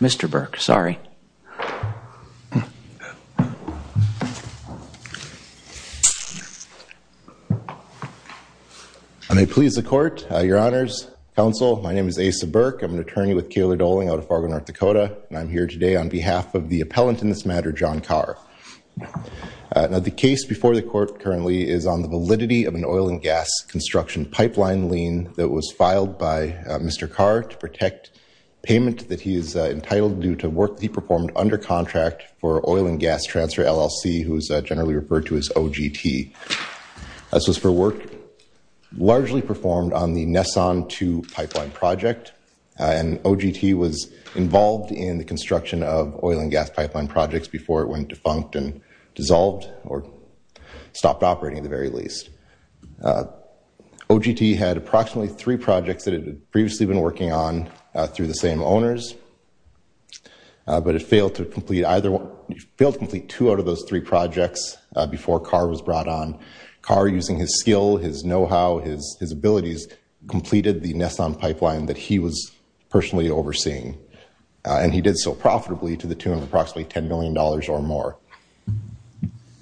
Mr. Burke, sorry. I may please the court, your honors, counsel. My name is Asa Burke. I'm an attorney with Kalar-Doling out of Fargo, North Dakota, and I'm here today on behalf of the appellant in this matter, John Karr. Now, the case before the court currently is on the validity of an oil and gas construction pipeline lien that was filed by Mr. Karr to protect payment that he is entitled to do to work that he performed under contract for Oil & Gas Transfer L.L.C., who is generally referred to as OGT. This was for work largely performed on the Nesson 2 pipeline project, and OGT was involved in the construction of oil and gas pipeline projects before it went defunct and dissolved, or stopped operating at the very least. OGT had approximately three projects that it had previously been working on through the same owners, but it failed to complete either one, failed to complete two out of those three projects before Karr was brought on. Karr, using his skill, his know-how, his abilities, completed the Nesson pipeline that he was personally overseeing, and he did so profitably to the tune of approximately $10 million or more.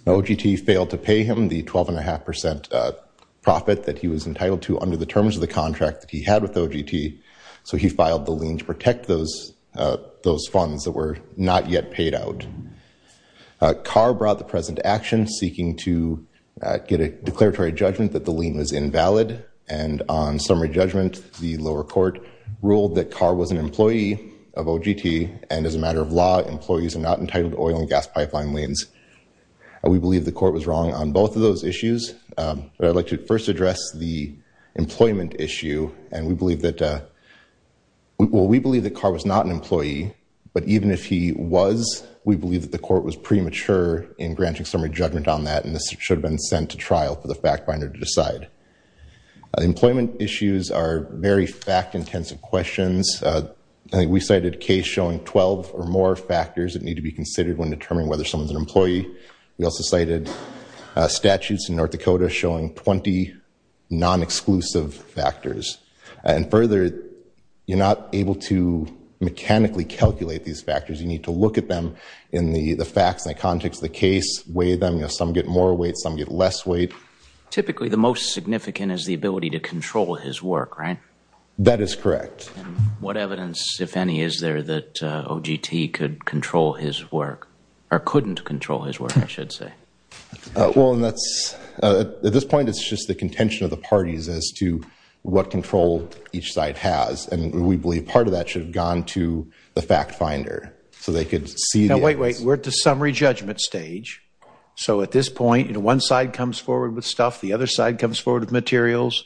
OGT failed to pay him the 12.5% profit that he was entitled to under the terms of the contract that he had with OGT, so he filed the lien to protect those funds that were not yet paid out. Karr brought the president to action, seeking to get a declaratory judgment that the lien was invalid, and on summary judgment, the lower court ruled that Karr was an employee of OGT, and as a matter of law, employees are not entitled to oil and gas pipeline liens. We believe the court was wrong on both of those issues, but I'd like to first address the employment issue, and we believe that, well, we believe that Karr was not an employee, but even if he was, we believe that the court was premature in granting summary judgment on that, and this should have been sent to trial for the fact-finder to decide. Employment issues are very fact-intensive questions. I think we cited a case showing 12 or more factors that need to be considered when determining whether someone's an employee. We also cited statutes in North Dakota showing 20 non-exclusive factors, and further, you're not able to mechanically calculate these factors. You need to look at them in the facts, in the context of the case, weigh them. Some get more weight, some get less weight. Typically, the most significant is the ability to control his work, right? That is correct. What evidence, if any, is there that OGT could control his work, or couldn't control his work, I should say? Well, and that's, at this point, it's just the contention of the parties as to what control each side has, and we believe part of that should have gone to the fact-finder, so they could see the evidence. Now, wait, wait, we're at the summary judgment stage, so at this point, you know, one side comes forward with stuff, the other side comes forward with materials,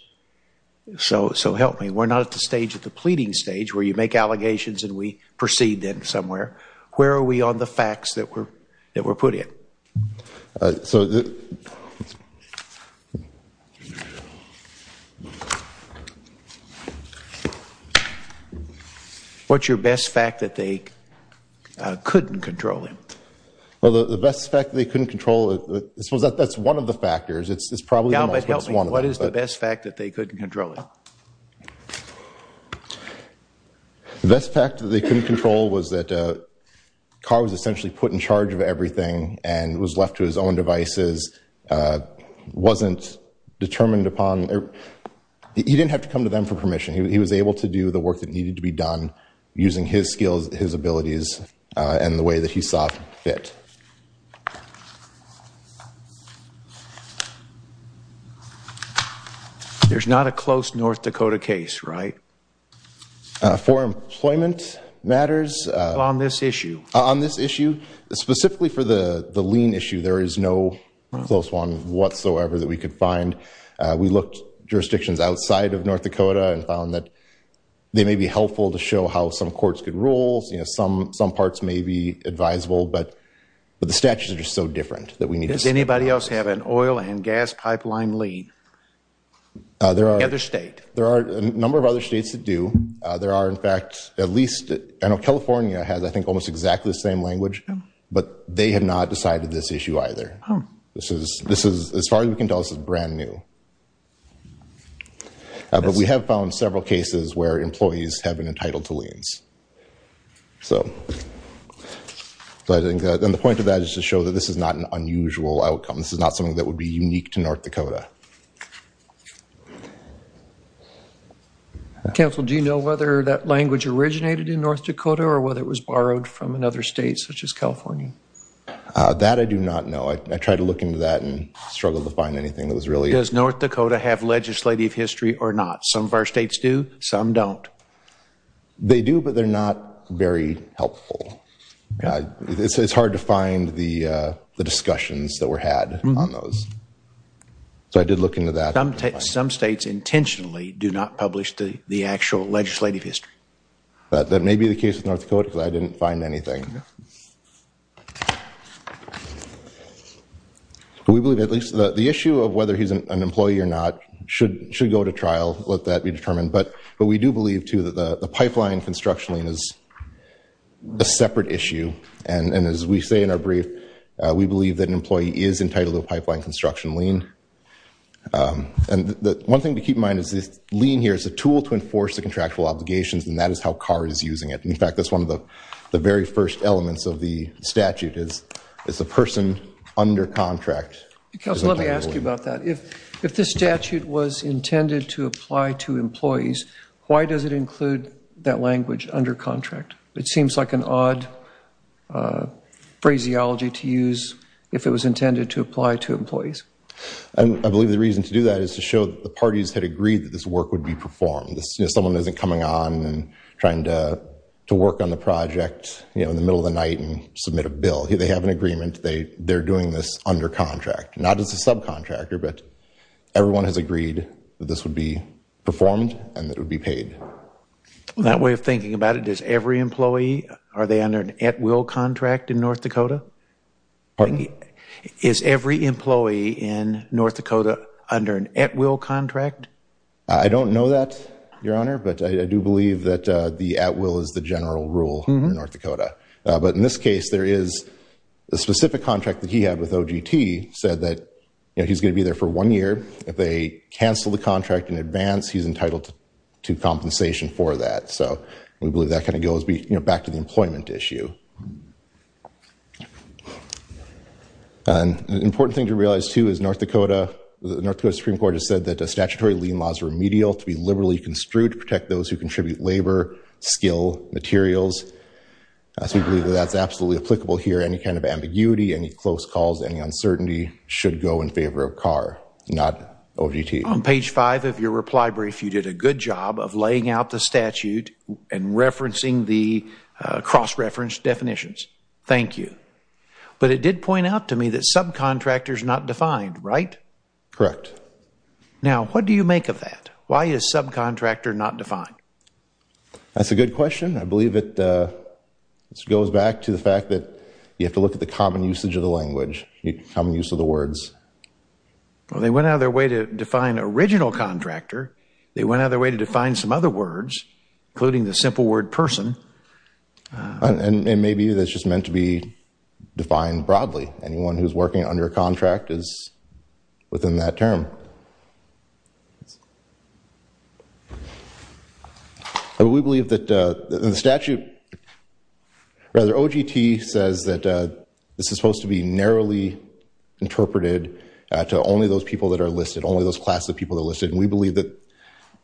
so help me, we're not at the stage, at the pleading stage, where you make allegations and we proceed then somewhere. Where are we on the facts that were put in? What's your best fact that they couldn't control him? Well, the best fact that they couldn't control, suppose that's one of the factors, it's probably the most, but it's one of them. Yeah, but help me, what is the best fact that they couldn't control him? The best fact that they couldn't control was that Carr was essentially put in charge of everything and was left to his own devices, wasn't determined upon, he didn't have to come to them for permission, he was able to do the work that needed to be done using his skills, his abilities, and the way that he saw fit. There's not a close North Dakota case, right? For employment matters. On this issue. On this issue. Specifically for the lien issue, there is no close one whatsoever that we could find. We looked jurisdictions outside of North Dakota and found that they may be helpful to show how some courts could rule, some parts may be advisable, but the statutes are just so different that we need to see. Does anybody else have an oil and gas pipeline lien? The other state. There are a number of other states that do. There are, in fact, at least, I know California has, I think, almost exactly the same language, but they have not decided this issue either. This is, as far as we can tell, this is brand new. But we have found several cases where employees have been entitled to liens. And the point of that is to show that this is not an unusual outcome, this is not something that would be unique to North Dakota. Counsel, do you know whether that language originated in North Dakota, or whether it was borrowed from another state, such as California? That I do not know. I tried to look into that and struggled to find anything that was really. Does North Dakota have legislative history or not? Some of our states do, some don't. They do, but they're not very helpful. It's hard to find the discussions that were had on those. So I did look into that. Some states intentionally do not publish the actual legislative history. That may be the case with North Dakota, because I didn't find anything. We believe, at least, the issue of whether he's an employee or not should go to trial, let that be determined. But we do believe, too, that the pipeline construction lien is a separate issue. And as we say in our brief, we believe that an employee is entitled to a pipeline construction lien. And one thing to keep in mind is this lien here is a tool to enforce the contractual obligations, and that is how CAR is using it. In fact, that's one of the very first elements of the statute, is a person under contract. Because let me ask you about that. If this statute was intended to apply to employees, why does it include that language, under contract? It seems like an odd phraseology to use if it was intended to apply to employees. I believe the reason to do that is to show that the parties had agreed that this work would be performed. Someone isn't coming on and trying to work on the project in the middle of the night and submit a bill. They have an agreement. They're doing this under contract, not as a subcontractor, but everyone has agreed that this would be performed and that it would be paid. That way of thinking about it, does every employee, are they under an at-will contract in North Dakota? Pardon? Is every employee in North Dakota under an at-will contract? I don't know that, Your Honor, but I do believe that the at-will is the general rule in North Dakota. But in this case, there is a specific contract that he had with OGT said that he's gonna be there for one year. If they cancel the contract in advance, he's entitled to compensation for that. So we believe that kinda goes back to the employment issue. An important thing to realize too is North Dakota, the North Dakota Supreme Court has said that the statutory lien laws are remedial to be liberally construed to protect those who contribute labor, skill, materials. So we believe that that's absolutely applicable here. Any kind of ambiguity, any close calls, any uncertainty should go in favor of CAR, not OGT. On page five of your reply brief, you did a good job of laying out the statute and referencing the cross-reference definitions. Thank you. But it did point out to me that subcontractor's not defined, right? Correct. Now, what do you make of that? Why is subcontractor not defined? That's a good question. I believe it goes back to the fact that you have to look at the common usage of the language, common use of the words. Well, they went out of their way to define original contractor. They went out of their way to define some other words, including the simple word person. And maybe that's just meant to be defined broadly. Anyone who's working under a contract is within that term. But we believe that the statute, rather OGT says that this is supposed to be narrowly interpreted to only those people that are listed, only those class of people that are listed. And we believe that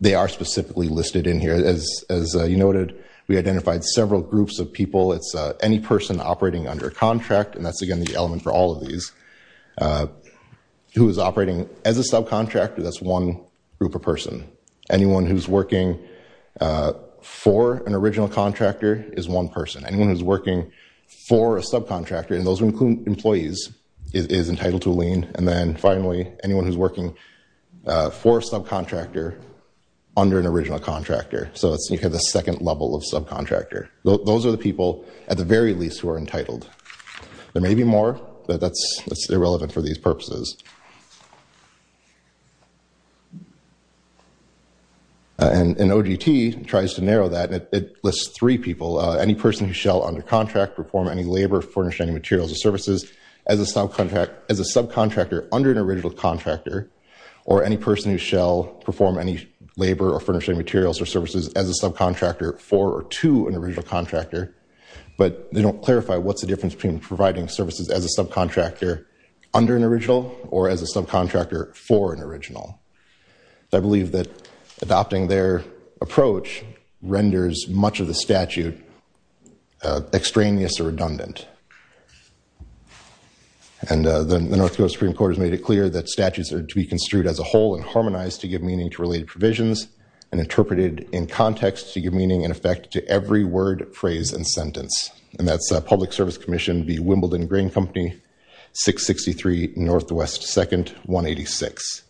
they are specifically listed in here. As you noted, we identified several groups of people. It's any person operating under a contract, and that's, again, the element for all of these, who is operating as a subcontractor, that's one group of person. Anyone who's working for an original contractor is one person. Anyone who's working for a subcontractor, and those include employees, is entitled to a lien. And then finally, anyone who's working for a subcontractor under an original contractor. So you have the second level of subcontractor. Those are the people, at the very least, who are entitled. There may be more, but that's irrelevant for these purposes. And OGT tries to narrow that, and it lists three people. Any person who shall, under contract, perform any labor, furnish any materials or services as a subcontractor under an original contractor, or any person who shall perform any labor or furnish any materials or services as a subcontractor for or to an original contractor, but they don't clarify what's the difference between providing services as a subcontractor under an original or as a subcontractor for an original. I believe that adopting their approach renders much of the statute extraneous or redundant. And the North Dakota Supreme Court has made it clear that statutes are to be construed as a whole and harmonized to give meaning to related provisions and interpreted in context to give meaning and effect to every word, phrase, and sentence. And that's Public Service Commission v. Wimbledon Grain Company, 663 Northwest 2nd, 186.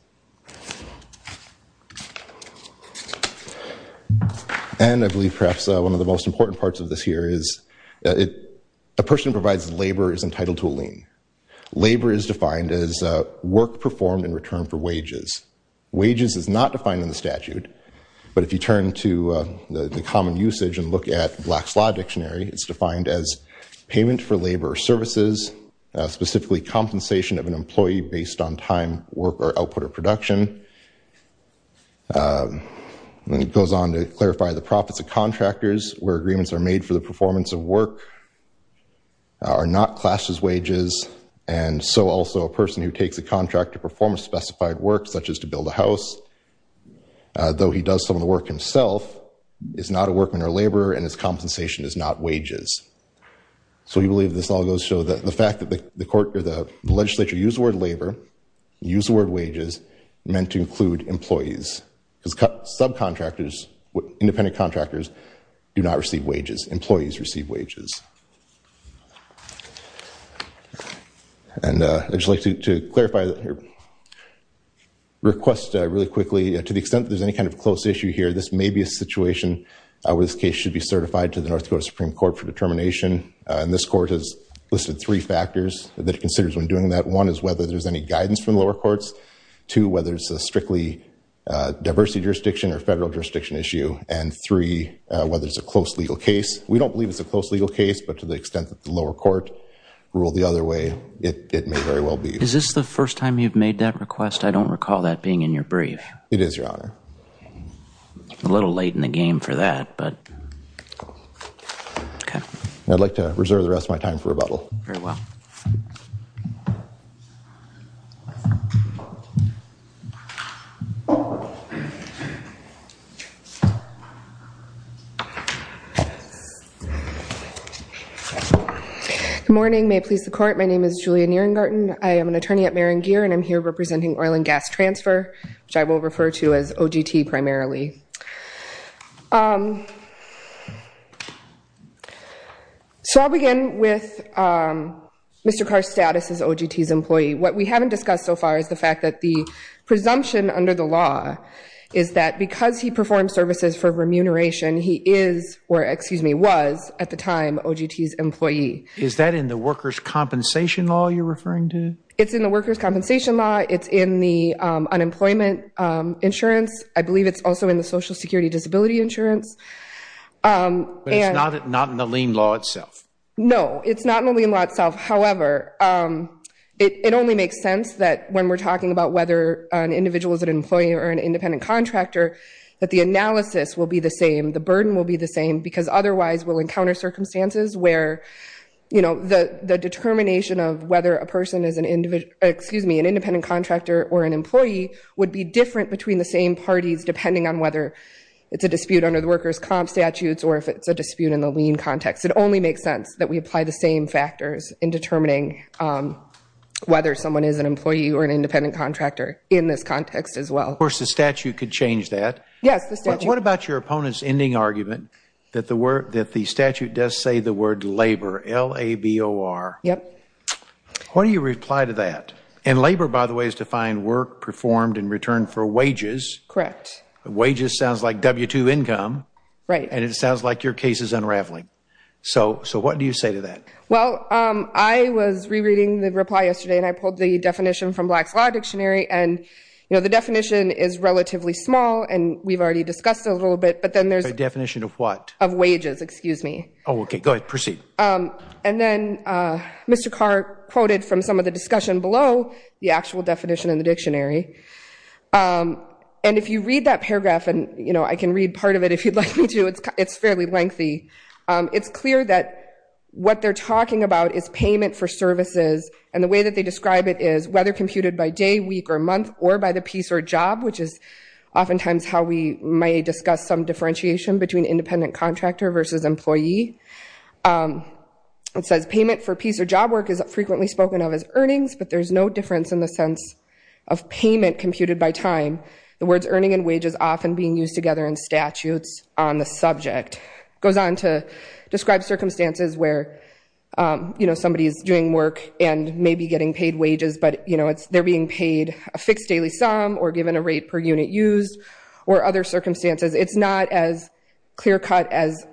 And I believe perhaps one of the most important parts of this here is a person who provides labor is entitled to a lien. Labor is defined as work performed in return for wages. Wages is not defined in the statute, but if you turn to the common usage and look at Black's Law Dictionary, it's defined as payment for labor or services, specifically compensation of an employee based on time, work, or output or production. And it goes on to clarify the profits of contractors where agreements are made for the performance of work are not classed as wages, and so also a person who takes a contract to perform a specified work, such as to build a house, though he does some of the work himself, is not a workman or laborer, and his compensation is not wages. So we believe this all goes to show the fact that the legislature used the word labor, used the word wages, meant to include employees. Because subcontractors, independent contractors, do not receive wages. Employees receive wages. And I'd just like to clarify that here. Request really quickly, to the extent that there's any kind of close issue here, this may be a situation where this case should be certified to the North Dakota Supreme Court for determination, and this court has listed three factors that it considers when doing that. One is whether there's any guidance from the lower courts. Two, whether it's a strictly diversity jurisdiction or federal jurisdiction issue. And three, whether it's a close legal case. We don't believe it's a close legal case, but to the extent that the lower court ruled the other way, it may very well be. Is this the first time you've made that request? I don't recall that being in your brief. It is, Your Honor. A little late in the game for that, but okay. I'd like to reserve the rest of my time for rebuttal. Very well. Yes. Good morning, may it please the court. My name is Julia Nearingarton. I am an attorney at Merrin-Gear, and I'm here representing oil and gas transfer, which I will refer to as OGT primarily. So I'll begin with Mr. Carr's status as OGT's employee. What we haven't discussed so far is the fact that the presumption under the law is that because he performs services for remuneration, he is, or excuse me, was at the time OGT's employee. Is that in the workers' compensation law you're referring to? It's in the workers' compensation law. It's in the unemployment insurance. I believe it's also in the social security disability insurance. But it's not in the lien law itself. No, it's not in the lien law itself. However, it only makes sense that when we're talking about whether an individual is an employee or an independent contractor, that the analysis will be the same, the burden will be the same, because otherwise we'll encounter circumstances where the determination of whether a person is an individual, excuse me, an independent contractor or an employee would be different between the same parties depending on whether it's a dispute under the workers' comp statutes or if it's a dispute in the lien context. It only makes sense that we apply the same factors in determining whether someone is an employee or an independent contractor in this context as well. Of course, the statute could change that. Yes, the statute. What about your opponent's ending argument that the statute does say the word labor, L-A-B-O-R? Yep. What do you reply to that? And labor, by the way, is defined work performed in return for wages. Correct. Wages sounds like W-2 income. Right. And it sounds like your case is unraveling. So what do you say to that? Well, I was rereading the reply yesterday and I pulled the definition from Black's Law Dictionary and the definition is relatively small and we've already discussed it a little bit, but then there's a definition of what? Of wages, excuse me. Oh, okay, go ahead, proceed. And then Mr. Carr quoted from some of the discussion below the actual definition in the dictionary. And if you read that paragraph, and I can read part of it if you'd like me to, it's fairly lengthy. It's clear that what they're talking about is payment for services and the way that they describe it is whether computed by day, week, or month or by the piece or job, which is oftentimes how we may discuss some differentiation between independent contractor versus employee. It says payment for piece or job work is frequently spoken of as earnings, but there's no difference in the sense of payment computed by time. The words earning and wage is often being used together in statutes on the subject. Goes on to describe circumstances where somebody is doing work and maybe getting paid wages, but they're being paid a fixed daily sum or given a rate per unit used, or other circumstances. It's not as clear cut as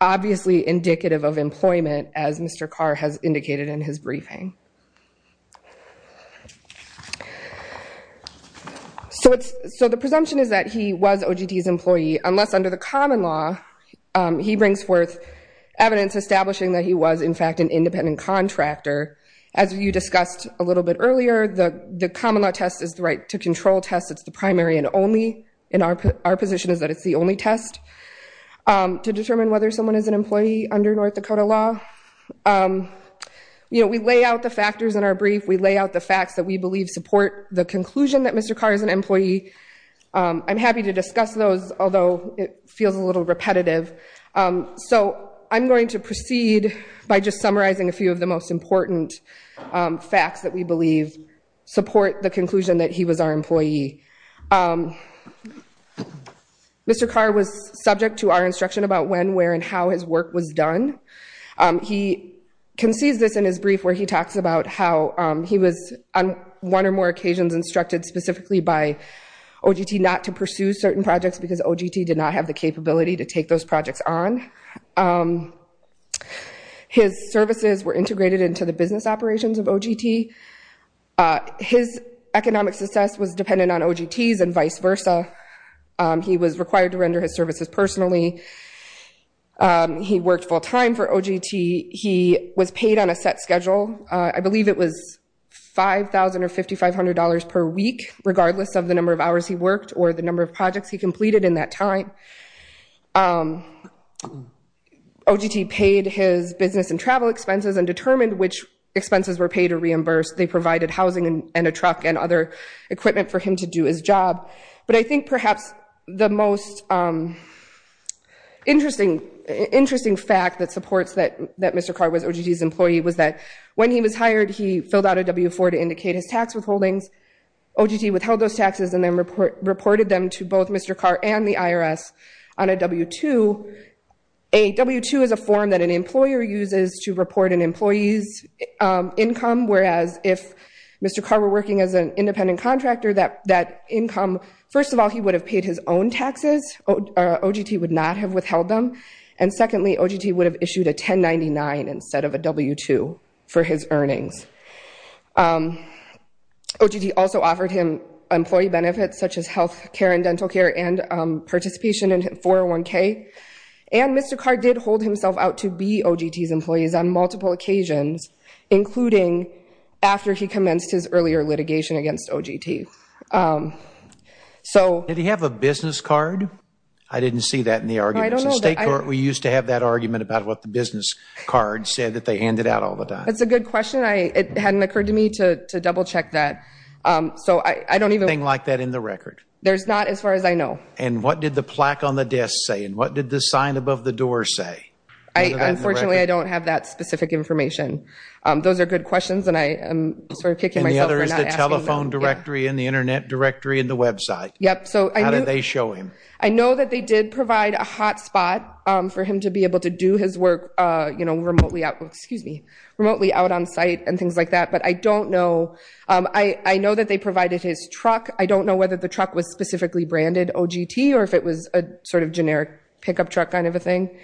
obviously indicative of employment as Mr. Carr has indicated in his briefing. So the presumption is that he was OGD's employee, unless under the common law, he brings forth evidence establishing that he was in fact an independent contractor. As you discussed a little bit earlier, the common law test is the right to control test. It's the primary and only, and our position is that it's the only test to determine whether someone is an employee under North Dakota law. We lay out the factors in our brief. We lay out the facts that we believe support the conclusion that Mr. Carr is an employee. I'm happy to discuss those, although it feels a little repetitive. So I'm going to proceed by just summarizing a few of the most important facts that we believe support the conclusion that he was our employee. Mr. Carr was subject to our instruction about when, where, and how his work was done. He concedes this in his brief, where he talks about how he was on one or more occasions instructed specifically by OGD not to pursue certain projects because OGD did not have the capability to take those projects on. His services were integrated into the business operations of OGD. His economic success was dependent on OGD's and vice versa. He was required to render his services personally. He worked full time for OGD. He was paid on a set schedule. I believe it was $5,000 or $5,500 per week, regardless of the number of hours he worked or the number of projects he completed in that time. OGD paid his business and travel expenses and determined which expenses were paid or reimbursed. They provided housing and a truck and other equipment for him to do his job. But I think perhaps the most interesting fact that supports that Mr. Carr was OGD's employee was that when he was hired, he filled out a W-4 to indicate his tax withholdings. OGD withheld those taxes and then reported them to both Mr. Carr and the IRS on a W-2. A W-2 is a form that an employer uses to report an employee's income, whereas if Mr. Carr were working as an independent contractor, that income, first of all, he would have paid his own taxes. OGD would not have withheld them. And secondly, OGD would have issued a 1099 instead of a W-2 for his earnings. OGD also offered him employee benefits such as health care and dental care and participation in 401K. And Mr. Carr did hold himself out to be OGD's employees on multiple occasions, including after he commenced his earlier litigation against OGD. So- Did he have a business card? I didn't see that in the arguments. In state court, we used to have that argument about what the business card said that they handed out all the time. That's a good question. It hadn't occurred to me to double-check that. So I don't even- Anything like that in the record? There's not as far as I know. And what did the plaque on the desk say? And what did the sign above the door say? I, unfortunately, I don't have that specific information. Those are good questions, and I am sort of kicking myself for not asking them. And the other is the telephone directory and the internet directory and the website. Yep, so I knew- How did they show him? I know that they did provide a hotspot for him to be able to do his work, you know, remotely out, excuse me, remotely out on site and things like that. But I don't know. I know that they provided his truck. I don't know whether the truck was specifically branded OGT or if it was a sort of generic pickup truck kind of a thing.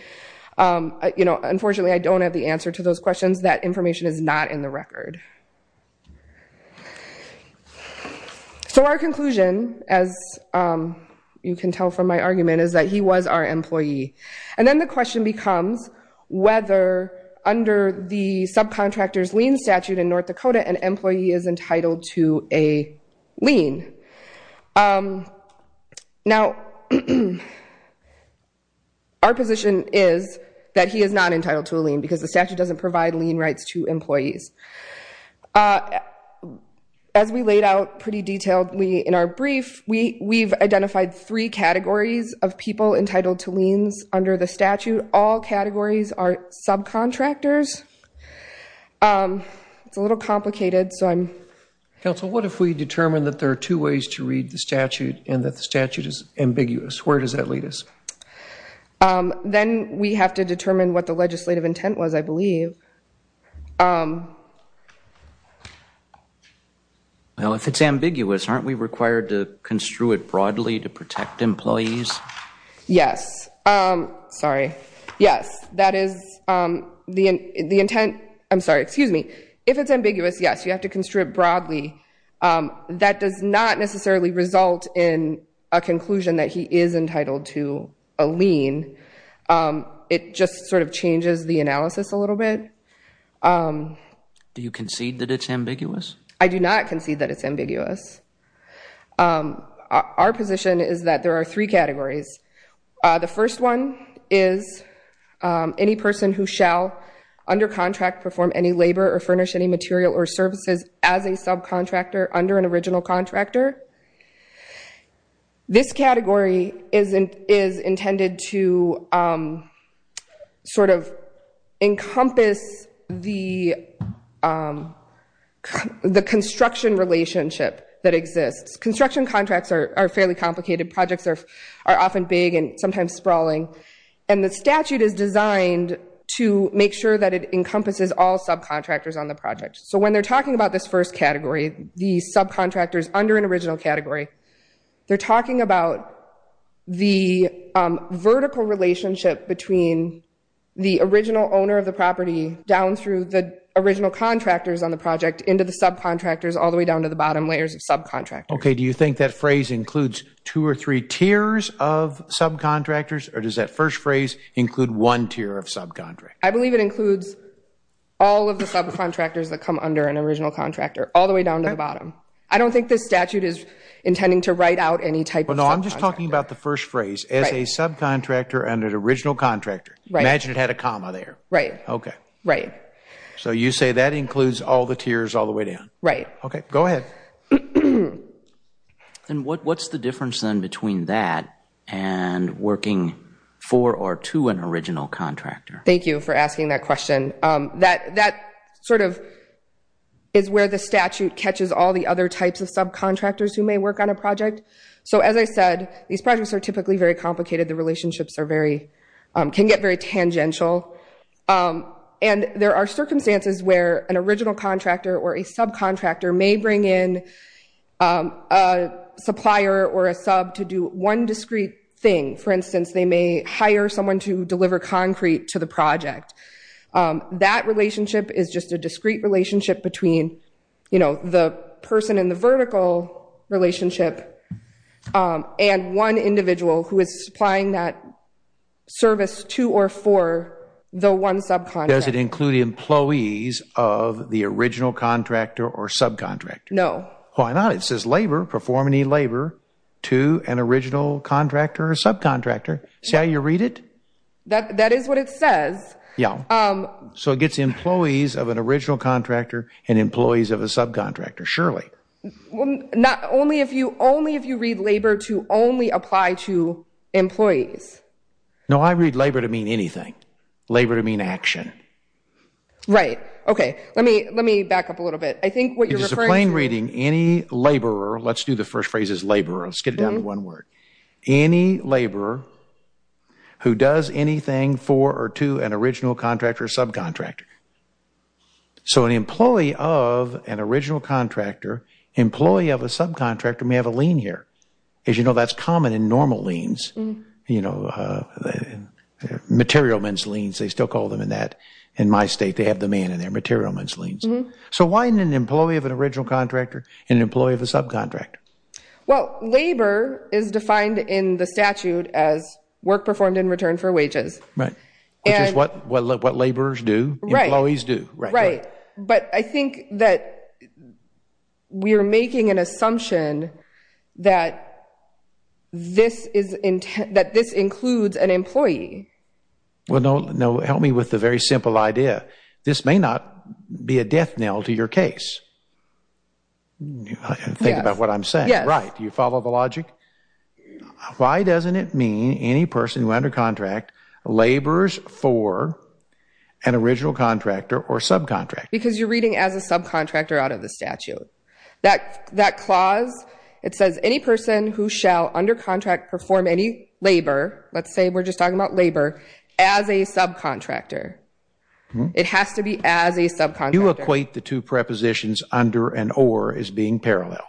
Unfortunately, I don't have the answer to those questions. That information is not in the record. So our conclusion, as you can tell from my argument, is that he was our employee. And then the question becomes whether under the subcontractor's lien statute in North Dakota, an employee is entitled to a lien. Now, our position is that he is not entitled to a lien because the statute doesn't provide lien rights to employees. As we laid out pretty detailedly in our brief, we've identified three categories of people entitled to liens under the statute. All categories are subcontractors. It's a little complicated, so I'm... Council, what if we determine that there are two ways to read the statute and that the statute is ambiguous? Where does that lead us? Then we have to determine what the legislative intent was, I believe. Well, if it's ambiguous, aren't we required to construe it broadly to protect employees? Yes. Sorry. Yes, that is the intent. I'm sorry, excuse me. If it's ambiguous, yes, you have to construe it broadly. That does not necessarily result in a conclusion that he is entitled to a lien. It just sort of changes the analysis a little bit. I do not concede that it's ambiguous. Our position is that there are three categories. The first one is any person who shall, under contract, perform any labor or furnish any material or services as a subcontractor under an original contractor. This category is intended to sort of encompass the construction relationship that exists. Construction contracts are fairly complicated. Projects are often big and sometimes sprawling. And the statute is designed to make sure that it encompasses all subcontractors on the project. So when they're talking about this first category, the subcontractors under an original category, they're talking about the vertical relationship between the original owner of the property down through the original contractors on the project into the subcontractors all the way down to the bottom layers of subcontractors. Okay, do you think that phrase includes two or three tiers of subcontractors? Or does that first phrase include one tier of subcontractors? I believe it includes all of the subcontractors that come under an original contractor all the way down to the bottom. I don't think this statute is intending to write out any type of subcontractor. Well, no, I'm just talking about the first phrase. As a subcontractor under an original contractor. Right. Imagine it had a comma there. Right. Okay. So you say that includes all the tiers all the way down? Right. Okay, go ahead. And what's the difference then between that and working for or to an original contractor? Thank you for asking that question. That sort of is where the statute catches all the other types of subcontractors who may work on a project. So as I said, these projects are typically very complicated. The relationships can get very tangential. And there are circumstances where an original contractor or a subcontractor may bring in a supplier or a sub to do one discrete thing. For instance, they may hire someone to deliver concrete to the project. That relationship is just a discrete relationship between the person in the vertical relationship and one individual who is supplying that service to or for the one subcontractor. Does it include employees of the original contractor or subcontractor? No. Why not? It says labor, perform any labor to an original contractor or subcontractor. See how you read it? That is what it says. Yeah. So it gets employees of an original contractor and employees of a subcontractor, surely. Only if you read labor to only apply to employees. No, I read labor to mean anything. Labor to mean action. Right, okay. Let me back up a little bit. I think what you're referring to- It's just a plain reading. Any laborer, let's do the first phrase is laborer. Let's get it down to one word. Any laborer who does anything for or to an original contractor or subcontractor. So an employee of an original contractor, employee of a subcontractor may have a lien here. As you know, that's common in normal liens. You know, material men's liens, they still call them in that. In my state, they have the man in their material men's liens. So why an employee of an original contractor and an employee of a subcontractor? Well, labor is defined in the statute as work performed in return for wages. Right, which is what laborers do, employees do. Right, but I think that we are making an assumption that this includes an employee. Well, no, help me with the very simple idea. This may not be a death knell to your case. Think about what I'm saying. Right, do you follow the logic? Why doesn't it mean any person who under contract labors for an original contractor or subcontractor? Because you're reading as a subcontractor out of the statute. That clause, it says any person who shall under contract perform any labor, let's say we're just talking about labor, as a subcontractor. It has to be as a subcontractor. You equate the two prepositions under and or as being parallel.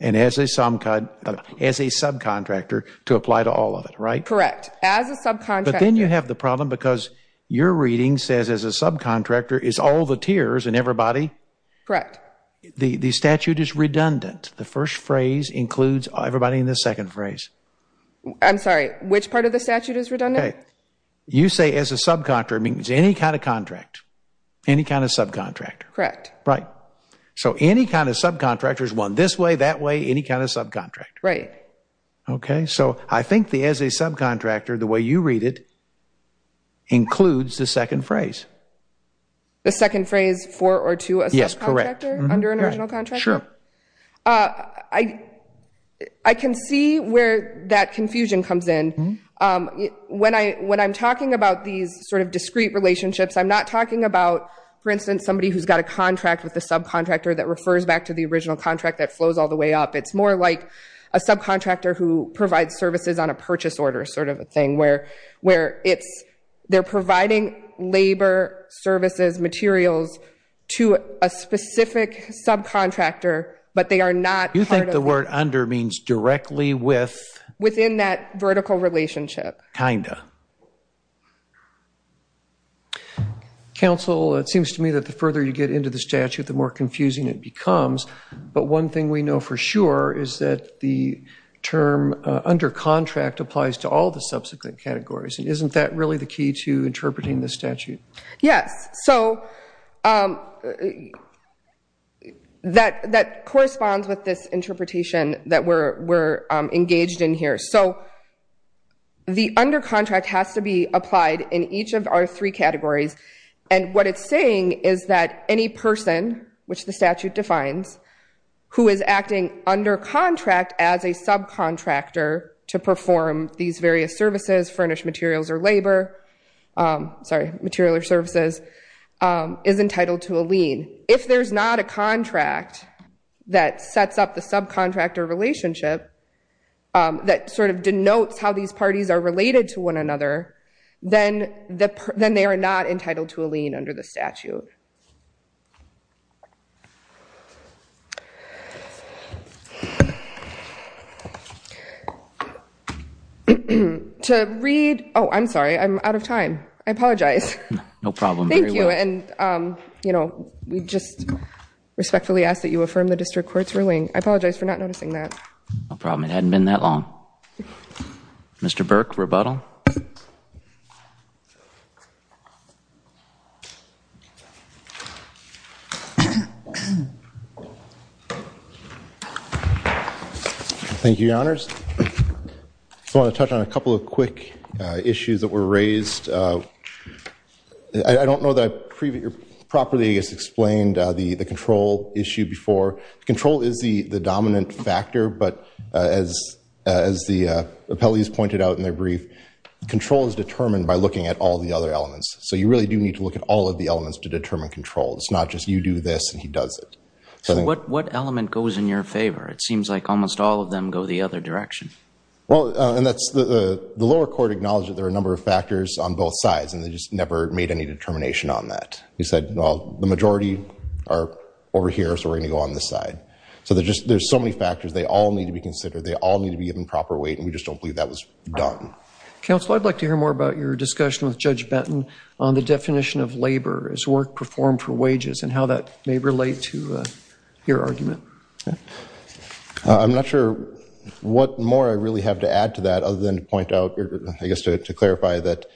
And as a subcontractor to apply to all of it, right? Correct, as a subcontractor. But then you have the problem because your reading says as a subcontractor is all the tiers and everybody. Correct. The statute is redundant. The first phrase includes everybody in the second phrase. I'm sorry, which part of the statute is redundant? You say as a subcontractor means any kind of contract, any kind of subcontractor. Correct. Right, so any kind of subcontractor is one this way, that way, any kind of subcontractor. Right. Okay, so I think the as a subcontractor, the way you read it, includes the second phrase. The second phrase for or to a subcontractor? Correct. Under an original contractor? Sure. I can see where that confusion comes in. When I'm talking about these sort of discreet relationships, I'm not talking about, for instance, somebody who's got a contract with a subcontractor that refers back to the original contract that flows all the way up. It's more like a subcontractor who provides services on a purchase order sort of a thing where it's, they're providing labor, services, materials to a specific subcontractor, but they are not part of it. You think the word under means directly with? Within that vertical relationship. Kinda. Counsel, it seems to me that the further you get into the statute, the more confusing it becomes. But one thing we know for sure is that the term under contract applies to all the subsequent categories. And isn't that really the key to interpreting the statute? Yes. So that corresponds with this interpretation that we're engaged in here. So the under contract has to be applied in each of our three categories. And what it's saying is that any person, which the statute defines, who is acting under contract as a subcontractor to perform these various services, furnish materials or labor, sorry, material or services, is entitled to a lien. If there's not a contract that sets up the subcontractor relationship that sort of denotes how these parties are related to one another, then they are not entitled to a lien under the statute. Thank you. To read, oh, I'm sorry, I'm out of time. I apologize. No problem. Thank you, and we just respectfully ask that you affirm the district court's ruling. I apologize for not noticing that. No problem, it hadn't been that long. Mr. Burke, rebuttal. Thank you. Thank you, your honors. I want to touch on a couple of quick issues that were raised. I don't know that I've properly, I guess, explained the control issue before. Control is the dominant factor, but as the appellees pointed out in their brief, control is determined by looking at all the other elements. So you really do need to look at all of the elements to determine control. It's not just you do this and he does it. So what element goes in your favor? It seems like almost all of them go the other direction. Well, and that's the lower court acknowledged that there are a number of factors on both sides, and they just never made any determination on that. They said, well, the majority are over here, so we're gonna go on this side. So there's so many factors. They all need to be considered. They all need to be given proper weight, and we just don't believe that was done. Counsel, I'd like to hear more about your discussion with Judge Benton on the definition of labor as work performed for wages and how that may relate to your argument. I'm not sure what more I really have to add to that other than to point out, or I guess to clarify, that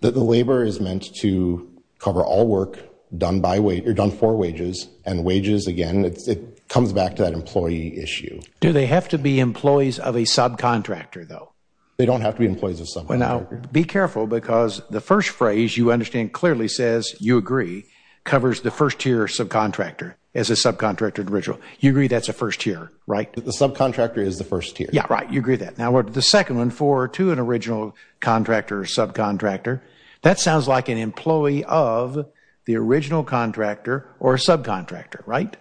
the labor is meant to cover all work done by, or done for wages, and wages, again, it comes back to that employee issue. Do they have to be employees of a subcontractor, though? They don't have to be employees of a subcontractor. Well, now, be careful, because the first phrase you understand clearly says, you agree, covers the first-tier subcontractor as a subcontractor of the original. You agree that's a first-tier, right? The subcontractor is the first-tier. Yeah, right, you agree with that. Now, the second one, for to an original contractor or subcontractor, that sounds like an employee of the original contractor or a subcontractor, right?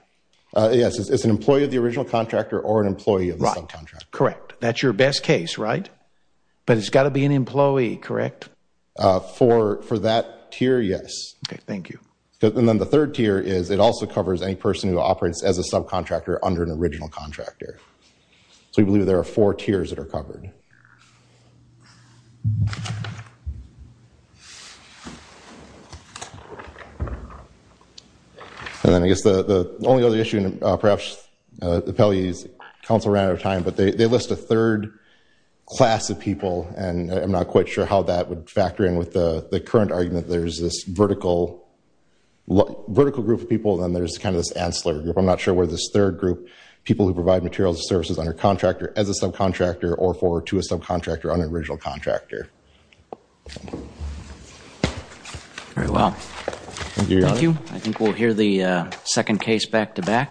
Yes, it's an employee of the original contractor or an employee of the subcontractor. Correct, that's your best case, right? But it's gotta be an employee, correct? For that tier, yes. Okay, thank you. And then the third tier is, it also covers any person who operates as a subcontractor under an original contractor. So we believe there are four tiers that are covered. And then I guess the only other issue, perhaps the appellee's counsel ran out of time, but they list a third class of people, and I'm not quite sure how that would factor in with the current argument. There's this vertical group of people, and then there's kind of this ancillary group. I'm not sure where this third group, people who provide materials and services under a contractor as a subcontractor or for to a subcontractor on an original contractor. Very well. Thank you, Your Honor. Thank you. I think we'll hear the second case back-to-back.